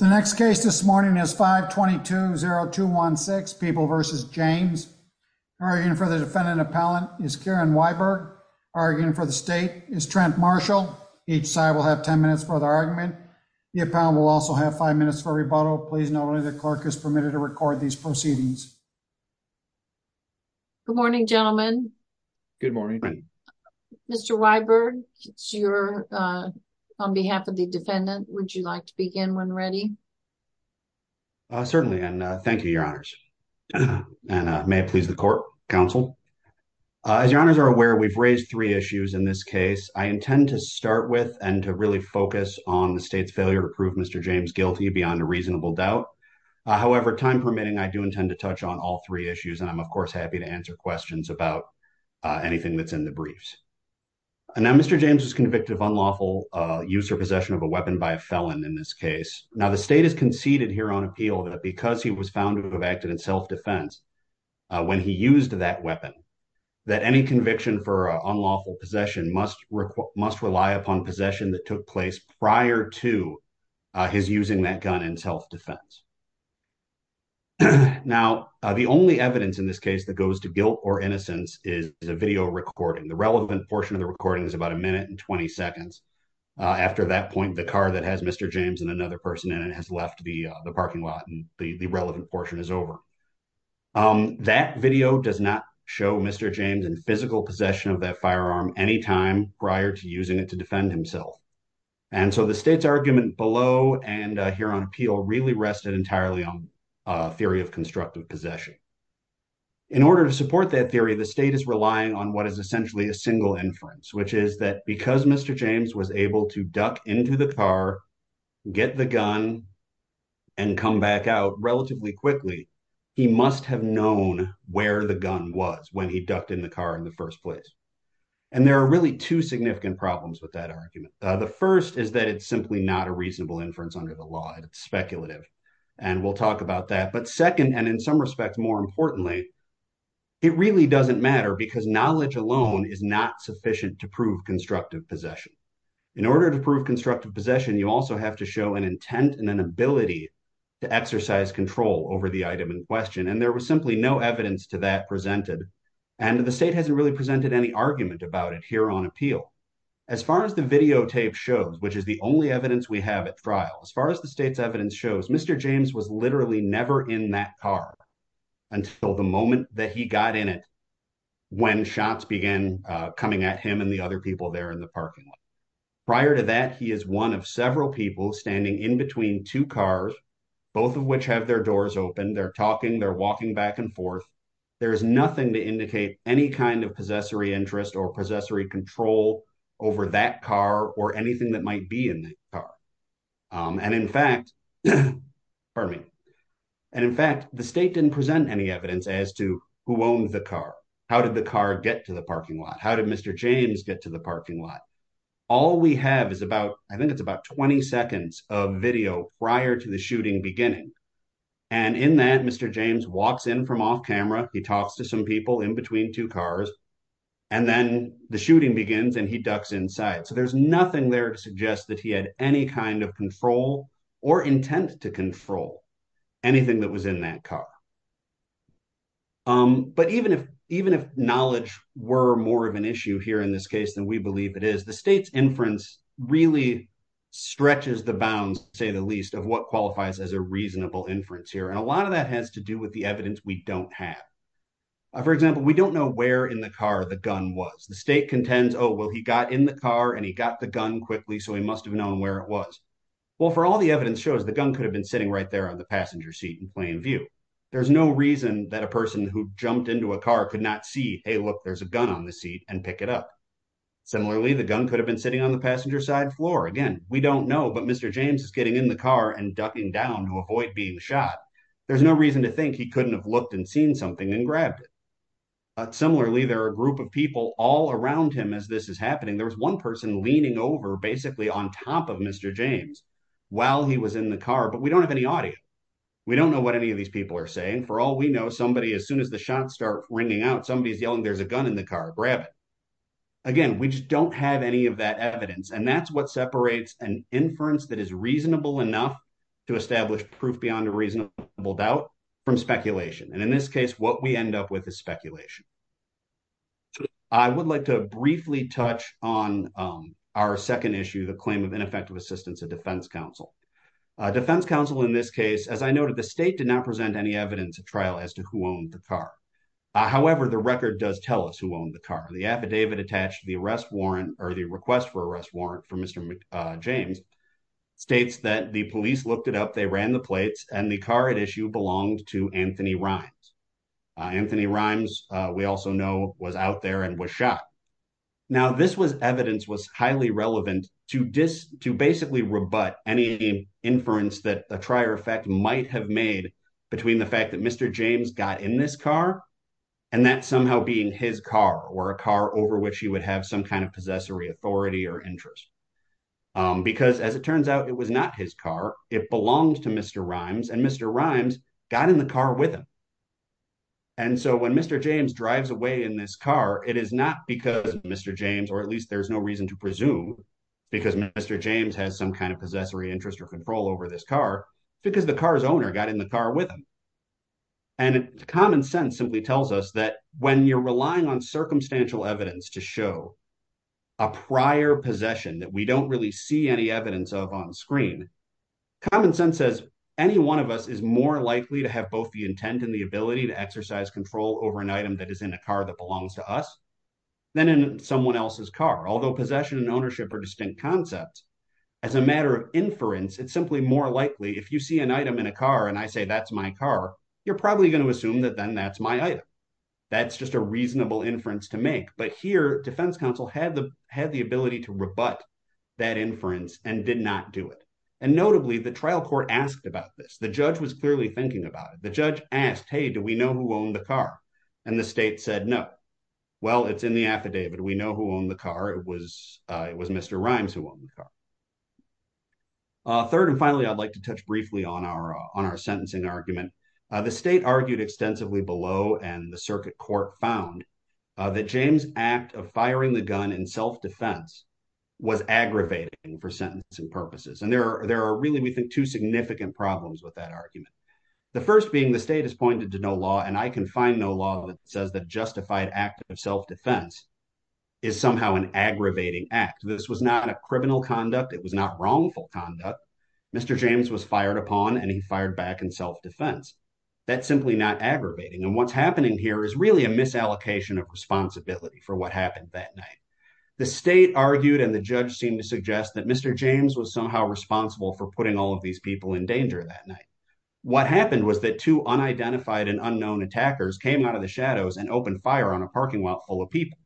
The next case this morning is 522-0216 People v. James. Arguing for the defendant appellant is Karen Weiberg. Arguing for the state is Trent Marshall. Each side will have 10 minutes for the argument. The appellant will also have five minutes for rebuttal. Please note only the clerk is permitted to record these proceedings. Good morning, gentlemen. Good morning. Mr. Weiberg, it's your, on behalf of the defendant, would you like to begin when ready? Certainly, and thank you, your honors. And may it please the court, counsel. As your honors are aware, we've raised three issues in this case. I intend to start with and to really focus on the state's failure to prove Mr. James guilty beyond a reasonable doubt. However, time permitting, I do intend to touch on all three issues. And I'm, of course, happy to answer questions about anything that's in the briefs. Now, Mr. James was convicted of unlawful use or possession of a weapon by a felon in this case. Now, the state has conceded here on appeal that because he was found to have acted in self-defense when he used that weapon, that any conviction for unlawful possession must rely upon possession that took place prior to his using that gun in self-defense. Now, the only evidence in this case that goes to guilt or innocence is a video recording. The relevant portion of the recording is about a minute and 20 seconds. After that point, the car that has Mr. James and another person in it has left the parking lot, and the relevant portion is over. That video does not show Mr. James in physical possession of that firearm any time prior to using it to defend himself. And so the state's argument below and here on appeal really rested entirely on theory of constructive possession. In order to support that theory, the state is relying on what is essentially a single inference, which is that because Mr. James was able to duck into the car, get the gun, and come back out relatively quickly, he must have known where the gun was when he ducked in the car in the first place. And there are really two significant problems with that argument. The first is that it's simply not a reasonable inference under the law. It's speculative, and we'll talk about that. But second, and in some respects, more importantly, it really doesn't matter because knowledge alone is not sufficient to prove constructive possession. In order to prove constructive possession, you also have to show an intent and an ability to exercise control over the item in question. And there was simply no evidence to that presented. And the state hasn't really presented any argument about it here on appeal. As far as the videotape shows, which is the only evidence we have at trial, as far as the state's evidence shows, Mr. James was literally never in that car until the moment that he got in it when shots began coming at him and the other people there in the parking lot. Prior to that, he is one of several people standing in between two cars, both of which have their doors open. They're talking, they're walking back and forth. There's nothing to indicate any kind of possessory interest or possessory control over that car or anything that might be in that car. And in fact, the state didn't present any evidence as to who owned the car. How did the car get to the parking lot? How did Mr. James get to the parking lot? All we have is about, I think it's about 20 seconds of video prior to the shooting beginning. And in that, Mr. James walks in from off camera. He talks to some people in between two cars and then the shooting begins and he ducks inside. So there's nothing there to suggest that he had any kind of control or intent to control anything that was in that car. But even if knowledge were more of an issue here in this case than we believe it is, the state's inference really stretches the bounds, say the least, of what qualifies as a reasonable inference here. And a lot of that has to do with the evidence we don't have. For example, we don't know where in the car the gun was. The state contends, oh, well, he got in the car and he got the gun quickly, so he must have known where it was. Well, for all the evidence shows, the gun could have been sitting right there on the passenger seat in plain view. There's no reason that a person who jumped into a car could not see, hey, look, there's a gun on the seat and pick it up. Similarly, the gun could have been sitting on the passenger side floor. Again, we don't know, but Mr. James is getting in the car and ducking down to avoid being shot. There's no reason to think he couldn't have looked and seen something and grabbed it. Similarly, there are a group of people all around him as this is happening. There was one person leaning over basically on top of Mr. James while he was in the car, but we don't have any audience. We don't know what any of these people are saying. For all we know, somebody, as soon as the shots start ringing out, somebody's yelling, there's a gun in the car, grab it. Again, we just don't have any of that evidence. And that's what separates an inference that is reasonable enough to establish proof beyond a reasonable doubt from speculation. And in this case, what we end up with is speculation. I would like to briefly touch on our second issue, the claim of ineffective assistance of defense counsel. Defense counsel in this case, as I noted, the state did not present any evidence at trial as to who owned the car. However, the record does tell us who owned the car. The affidavit attached to the arrest warrant or the request for arrest warrant for Mr. James states that the police looked it up, they ran the plates and the car at issue belonged to Anthony Rimes. Anthony Rimes, we also know, was out there and was shot. Now, this evidence was highly relevant to basically rebut any inference that a trier effect might have made between the fact that Mr. James got in this car and that somehow being his car or a car over which he would have some kind of possessory authority or interest. Because as it turns out, it was not his car. It belonged to Mr. Rimes and Mr. Rimes got in the car with him. And so when Mr. James drives away in this car, it is not because Mr. James or at least there's no reason to presume because Mr. James has some kind of possessory interest or control over this car because the car's owner got in the car with him. And common sense simply tells us that when you're relying on circumstantial evidence to show a prior possession that we don't really see any evidence of on screen. Common sense says any one of us is more likely to have both the intent and the ability to exercise control over an item that is in a car that belongs to us than in someone else's car, although possession and ownership are distinct concepts. As a matter of inference, it's simply more likely if you see an item in a car and I say that's my car, you're probably going to assume that then that's my item. That's just a reasonable inference to make. But here, defense counsel had the ability to rebut that inference and did not do it. And notably, the trial court asked about this. The judge was clearly thinking about it. The judge asked, hey, do we know who owned the car? And the state said, no. Well, it's in the affidavit. We know who owned the car. It was Mr. Rimes who owned the car. Third and finally, I'd like to touch briefly on our sentencing argument. The state argued extensively below and the circuit court found that James' act of firing the gun in self-defense was aggravating for sentencing purposes. And there are really, we think, two significant problems with that argument. The first being the state has pointed to no law and I can find no law that says the justified act of self-defense is somehow an aggravating act. This was not a criminal conduct. It was not wrongful conduct. Mr. James was fired upon and he fired back in self-defense. That's simply not aggravating. And what's happening here is really a misallocation of responsibility for what happened that night. The state argued and the judge seemed to suggest that Mr. James was somehow responsible for putting all of these people in danger that night. What happened was that two unidentified and unknown attackers came out of the shadows and opened fire on a parking lot full of people.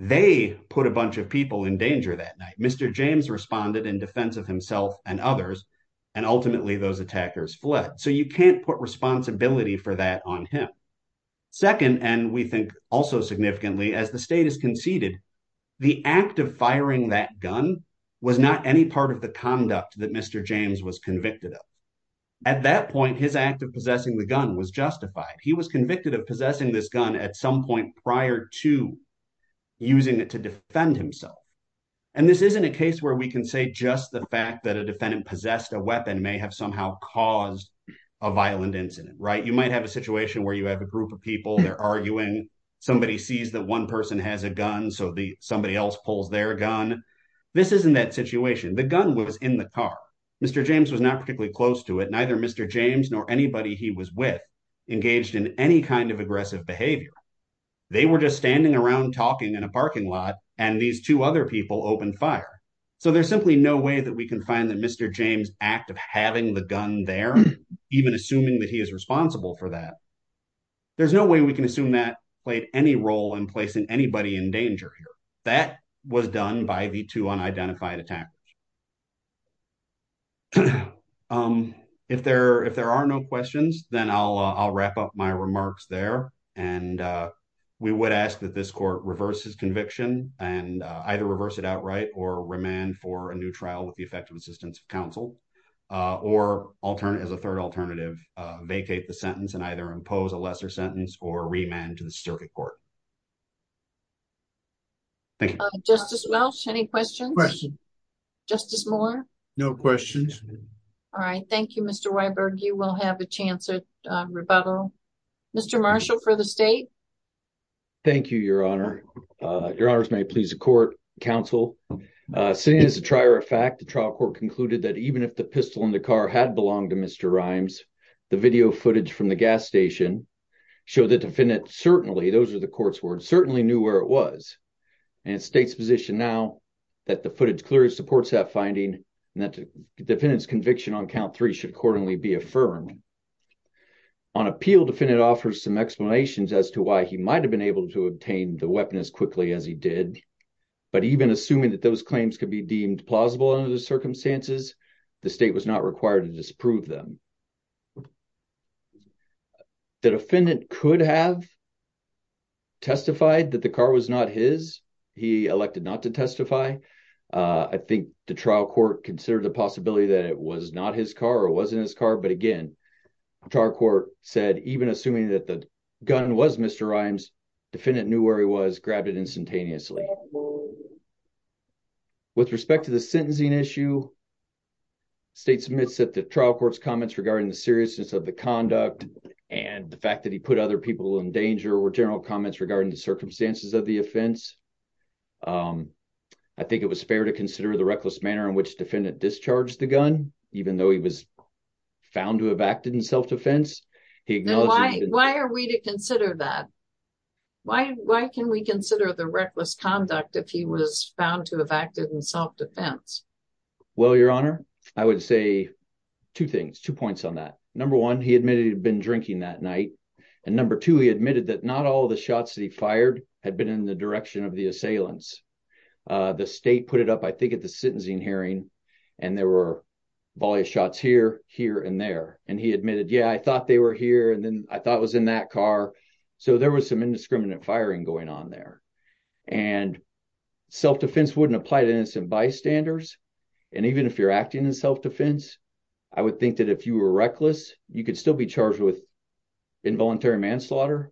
They put a bunch of people in danger that night. Mr. James responded in defense of himself and others, and ultimately those attackers fled. So you can't put responsibility for that on him. Second, and we think also significantly, as the state has conceded, the act of firing that gun was not any part of the conduct that Mr. James was convicted of. At that point, his act of possessing the gun was justified. He was convicted of possessing this gun at some point prior to using it to defend himself. And this isn't a case where we can say just the fact that a defendant possessed a weapon may have somehow caused a violent incident, right? You might have a situation where you have a group of people, they're arguing, somebody sees that one person has a gun, so somebody else pulls their gun. This isn't that situation. The gun was in the car. Mr. James was not particularly close to it. Neither Mr. James nor anybody he was with engaged in any kind of aggressive behavior. They were just standing around talking in a parking lot, and these two other people opened fire. So there's simply no way that we can find that Mr. James' act of having the gun there, even assuming that he is responsible for that. There's no way we can assume that played any role in placing anybody in danger here. That was done by the two unidentified attackers. If there are no questions, then I'll wrap up my remarks there. And we would ask that this court reverse his conviction and either reverse it outright or remand for a new trial with the effective assistance of counsel. Or as a third alternative, vacate the sentence and either impose a lesser sentence or remand to the circuit court. Thank you. Justice Welch, any questions? Questions. Justice Moore? No questions. All right. Thank you, Mr. Weiberg. You will have a chance at rebuttal. Mr. Marshall for the state. Thank you, Your Honor. Your Honors, may it please the court, counsel. Seeing as a trier of fact, the trial court concluded that even if the pistol in the car had belonged to Mr. Rimes, the video footage from the gas station showed the defendant certainly, those are the court's words, certainly knew where it was. And it's the state's position now that the footage clearly supports that finding and that the defendant's conviction on count three should accordingly be affirmed. On appeal, the defendant offers some explanations as to why he might have been able to obtain the weapon as quickly as he did. But even assuming that those claims could be deemed plausible under the circumstances, the state was not required to disprove them. The defendant could have testified that the car was not his. He elected not to testify. I think the trial court considered the possibility that it was not his car or wasn't his car. But again, trial court said even assuming that the gun was Mr. Rimes, defendant knew where he was, grabbed it instantaneously. With respect to the sentencing issue, state submits that the trial court's comments regarding the seriousness of the conduct and the fact that he put other people in danger were general comments regarding the circumstances of the offense. I think it was fair to consider the reckless manner in which the defendant discharged the gun, even though he was found to have acted in self-defense. Why are we to consider that? Why can we consider the reckless conduct if he was found to have acted in self-defense? Well, Your Honor, I would say two things, two points on that. Number one, he admitted he'd been drinking that night. And number two, he admitted that not all the shots that he fired had been in the direction of the assailants. The state put it up, I think, at the sentencing hearing. And there were volley shots here, here, and there. And he admitted, yeah, I thought they were here. And then I thought it was in that car. So there was some indiscriminate firing going on there. And self-defense wouldn't apply to innocent bystanders. And even if you're acting in self-defense, I would think that if you were reckless, you could still be charged with involuntary manslaughter.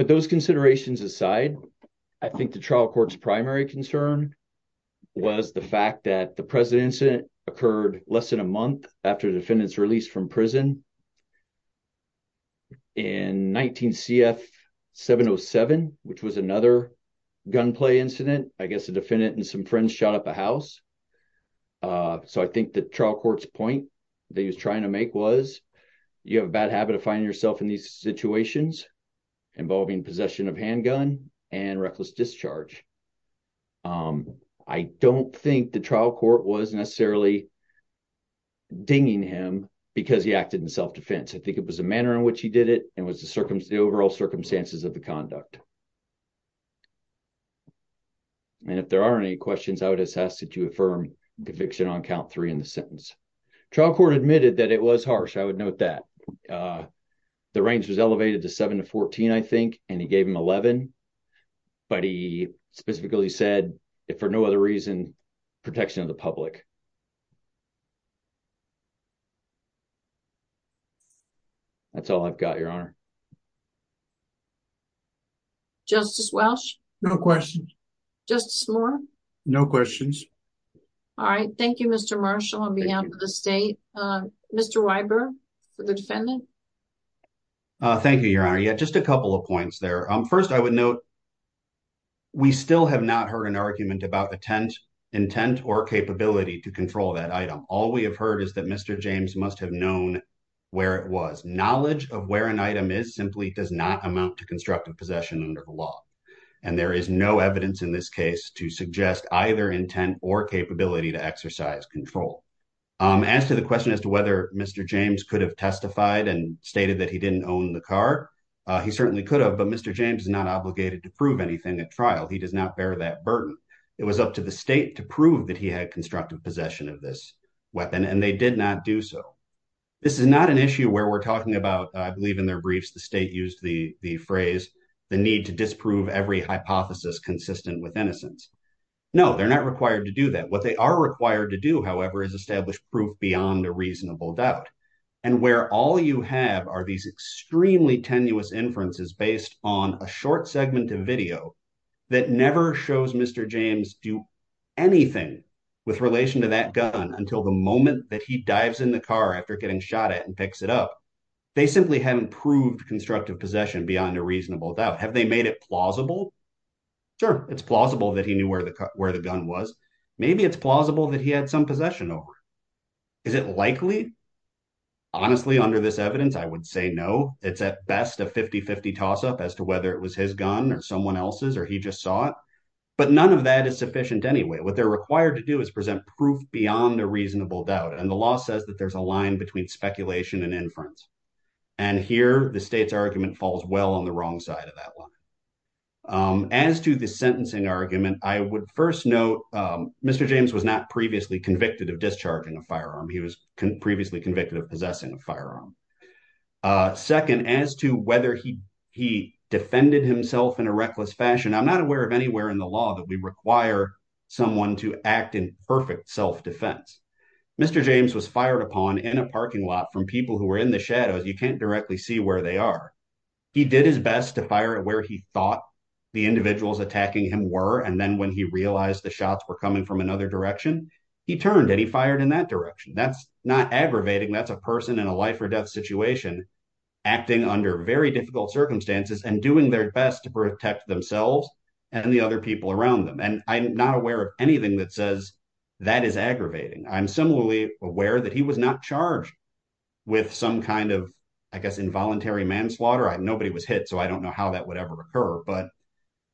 But those considerations aside, I think the trial court's primary concern was the fact that the President's incident occurred less than a month after the defendant's release from prison in 19 CF 707, which was another gunplay incident. I guess the defendant and some friends shot up a house. So I think the trial court's point that he was trying to make was you have a bad habit of finding yourself in these situations involving possession of handgun and reckless discharge. I don't think the trial court was necessarily dinging him because he acted in self-defense. I think it was the manner in which he did it and was the overall circumstances of the conduct. And if there are any questions, I would ask that you affirm conviction on count three in the sentence. Trial court admitted that it was harsh. I would note that. The range was elevated to 7 to 14, I think, and he gave him 11. But he specifically said, if for no other reason, protection of the public. That's all I've got, Your Honor. Justice Welsh? No questions. Justice Moore? No questions. All right. Thank you, Mr. Marshall. I'll be out of the state. Mr. Weiber for the defendant. Thank you, Your Honor. Yeah, just a couple of points there. First, I would note, we still have not heard an argument about intent or capability to control that item. All we have heard is that Mr. James must have known where it was. Knowledge of where an item is simply does not amount to constructive possession under the law. And there is no evidence in this case to suggest either intent or capability to exercise control. As to the question as to whether Mr. James could have testified and stated that he didn't own the car, he certainly could have. But Mr. James is not obligated to prove anything at trial. He does not bear that burden. It was up to the state to prove that he had constructive possession of this weapon, and they did not do so. This is not an issue where we're talking about, I believe in their briefs, the state used the phrase, the need to disprove every hypothesis consistent with innocence. No, they're not required to do that. What they are required to do, however, is establish proof beyond a reasonable doubt. And where all you have are these extremely tenuous inferences based on a short segment of video that never shows Mr. James do anything with relation to that gun until the moment that he dives in the car after getting shot at and picks it up. They simply haven't proved constructive possession beyond a reasonable doubt. Have they made it plausible? Sure, it's plausible that he knew where the gun was. Maybe it's plausible that he had some possession of it. Is it likely? Honestly, under this evidence, I would say no. It's at best a 50-50 toss-up as to whether it was his gun or someone else's, or he just saw it. But none of that is sufficient anyway. What they're required to do is present proof beyond a reasonable doubt. And the law says that there's a line between speculation and inference. And here, the state's argument falls well on the wrong side of that one. As to the sentencing argument, I would first note Mr. James was not previously convicted of discharging a firearm. He was previously convicted of possessing a firearm. Second, as to whether he defended himself in a reckless fashion, I'm not aware of anywhere in the law that we require someone to act in perfect self-defense. Mr. James was fired upon in a parking lot from people who were in the shadows. You can't directly see where they are. He did his best to fire at where he thought the individuals attacking him were. And then when he realized the shots were coming from another direction, he turned and he fired in that direction. That's not aggravating. That's a person in a life or death situation acting under very difficult circumstances and doing their best to protect themselves and the other people around them. And I'm not aware of anything that says that is aggravating. I'm similarly aware that he was not charged with some kind of, I guess, involuntary manslaughter. Nobody was hit, so I don't know how that would ever occur. But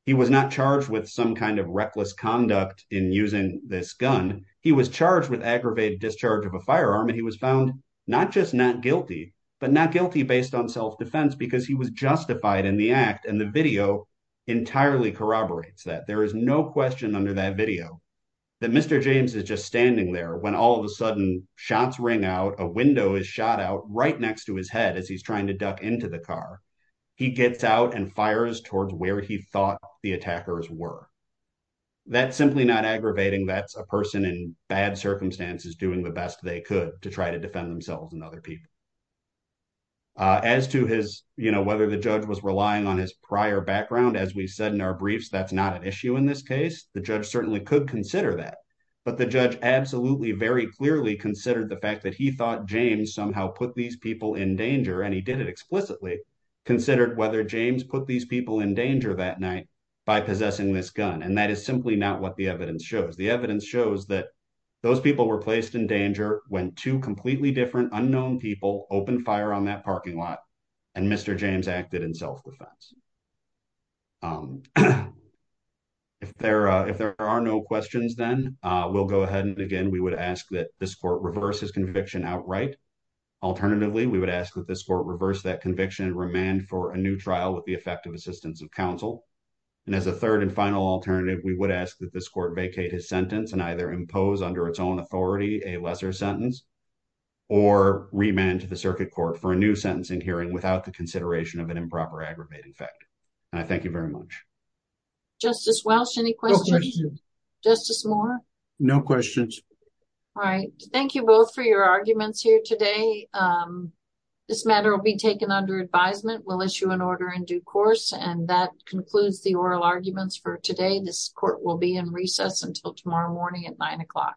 he was not charged with some kind of reckless conduct in using this gun. He was charged with aggravated discharge of a firearm, and he was found not just not guilty, but not guilty based on self-defense because he was justified in the act. And the video entirely corroborates that. There is no question under that video that Mr. James is just standing there when all of a sudden shots ring out. A window is shot out right next to his head as he's trying to duck into the car. He gets out and fires towards where he thought the attackers were. That's simply not aggravating. That's a person in bad circumstances doing the best they could to try to defend themselves and other people. As to whether the judge was relying on his prior background, as we said in our briefs, that's not an issue in this case. The judge certainly could consider that. But the judge absolutely very clearly considered the fact that he thought James somehow put these people in danger, and he did it explicitly, considered whether James put these people in danger that night by possessing this gun. And that is simply not what the evidence shows. The evidence shows that those people were placed in danger when two completely different, unknown people opened fire on that parking lot, and Mr. James acted in self-defense. If there are no questions, then we'll go ahead and, again, we would ask that this court reverse his conviction outright. Alternatively, we would ask that this court reverse that conviction and remand for a new trial with the effective assistance of counsel. And as a third and final alternative, we would ask that this court vacate his sentence and either impose under its own authority a lesser sentence or remand to the circuit court for a new sentencing hearing without the consideration of an improper aggravating fact. And I thank you very much. Justice Welch, any questions? No questions. Justice Moore? No questions. All right. Thank you both for your arguments here today. This matter will be taken under advisement. We'll issue an order in due course. And that concludes the oral arguments for today. This court will be in recess until tomorrow morning at 9 o'clock.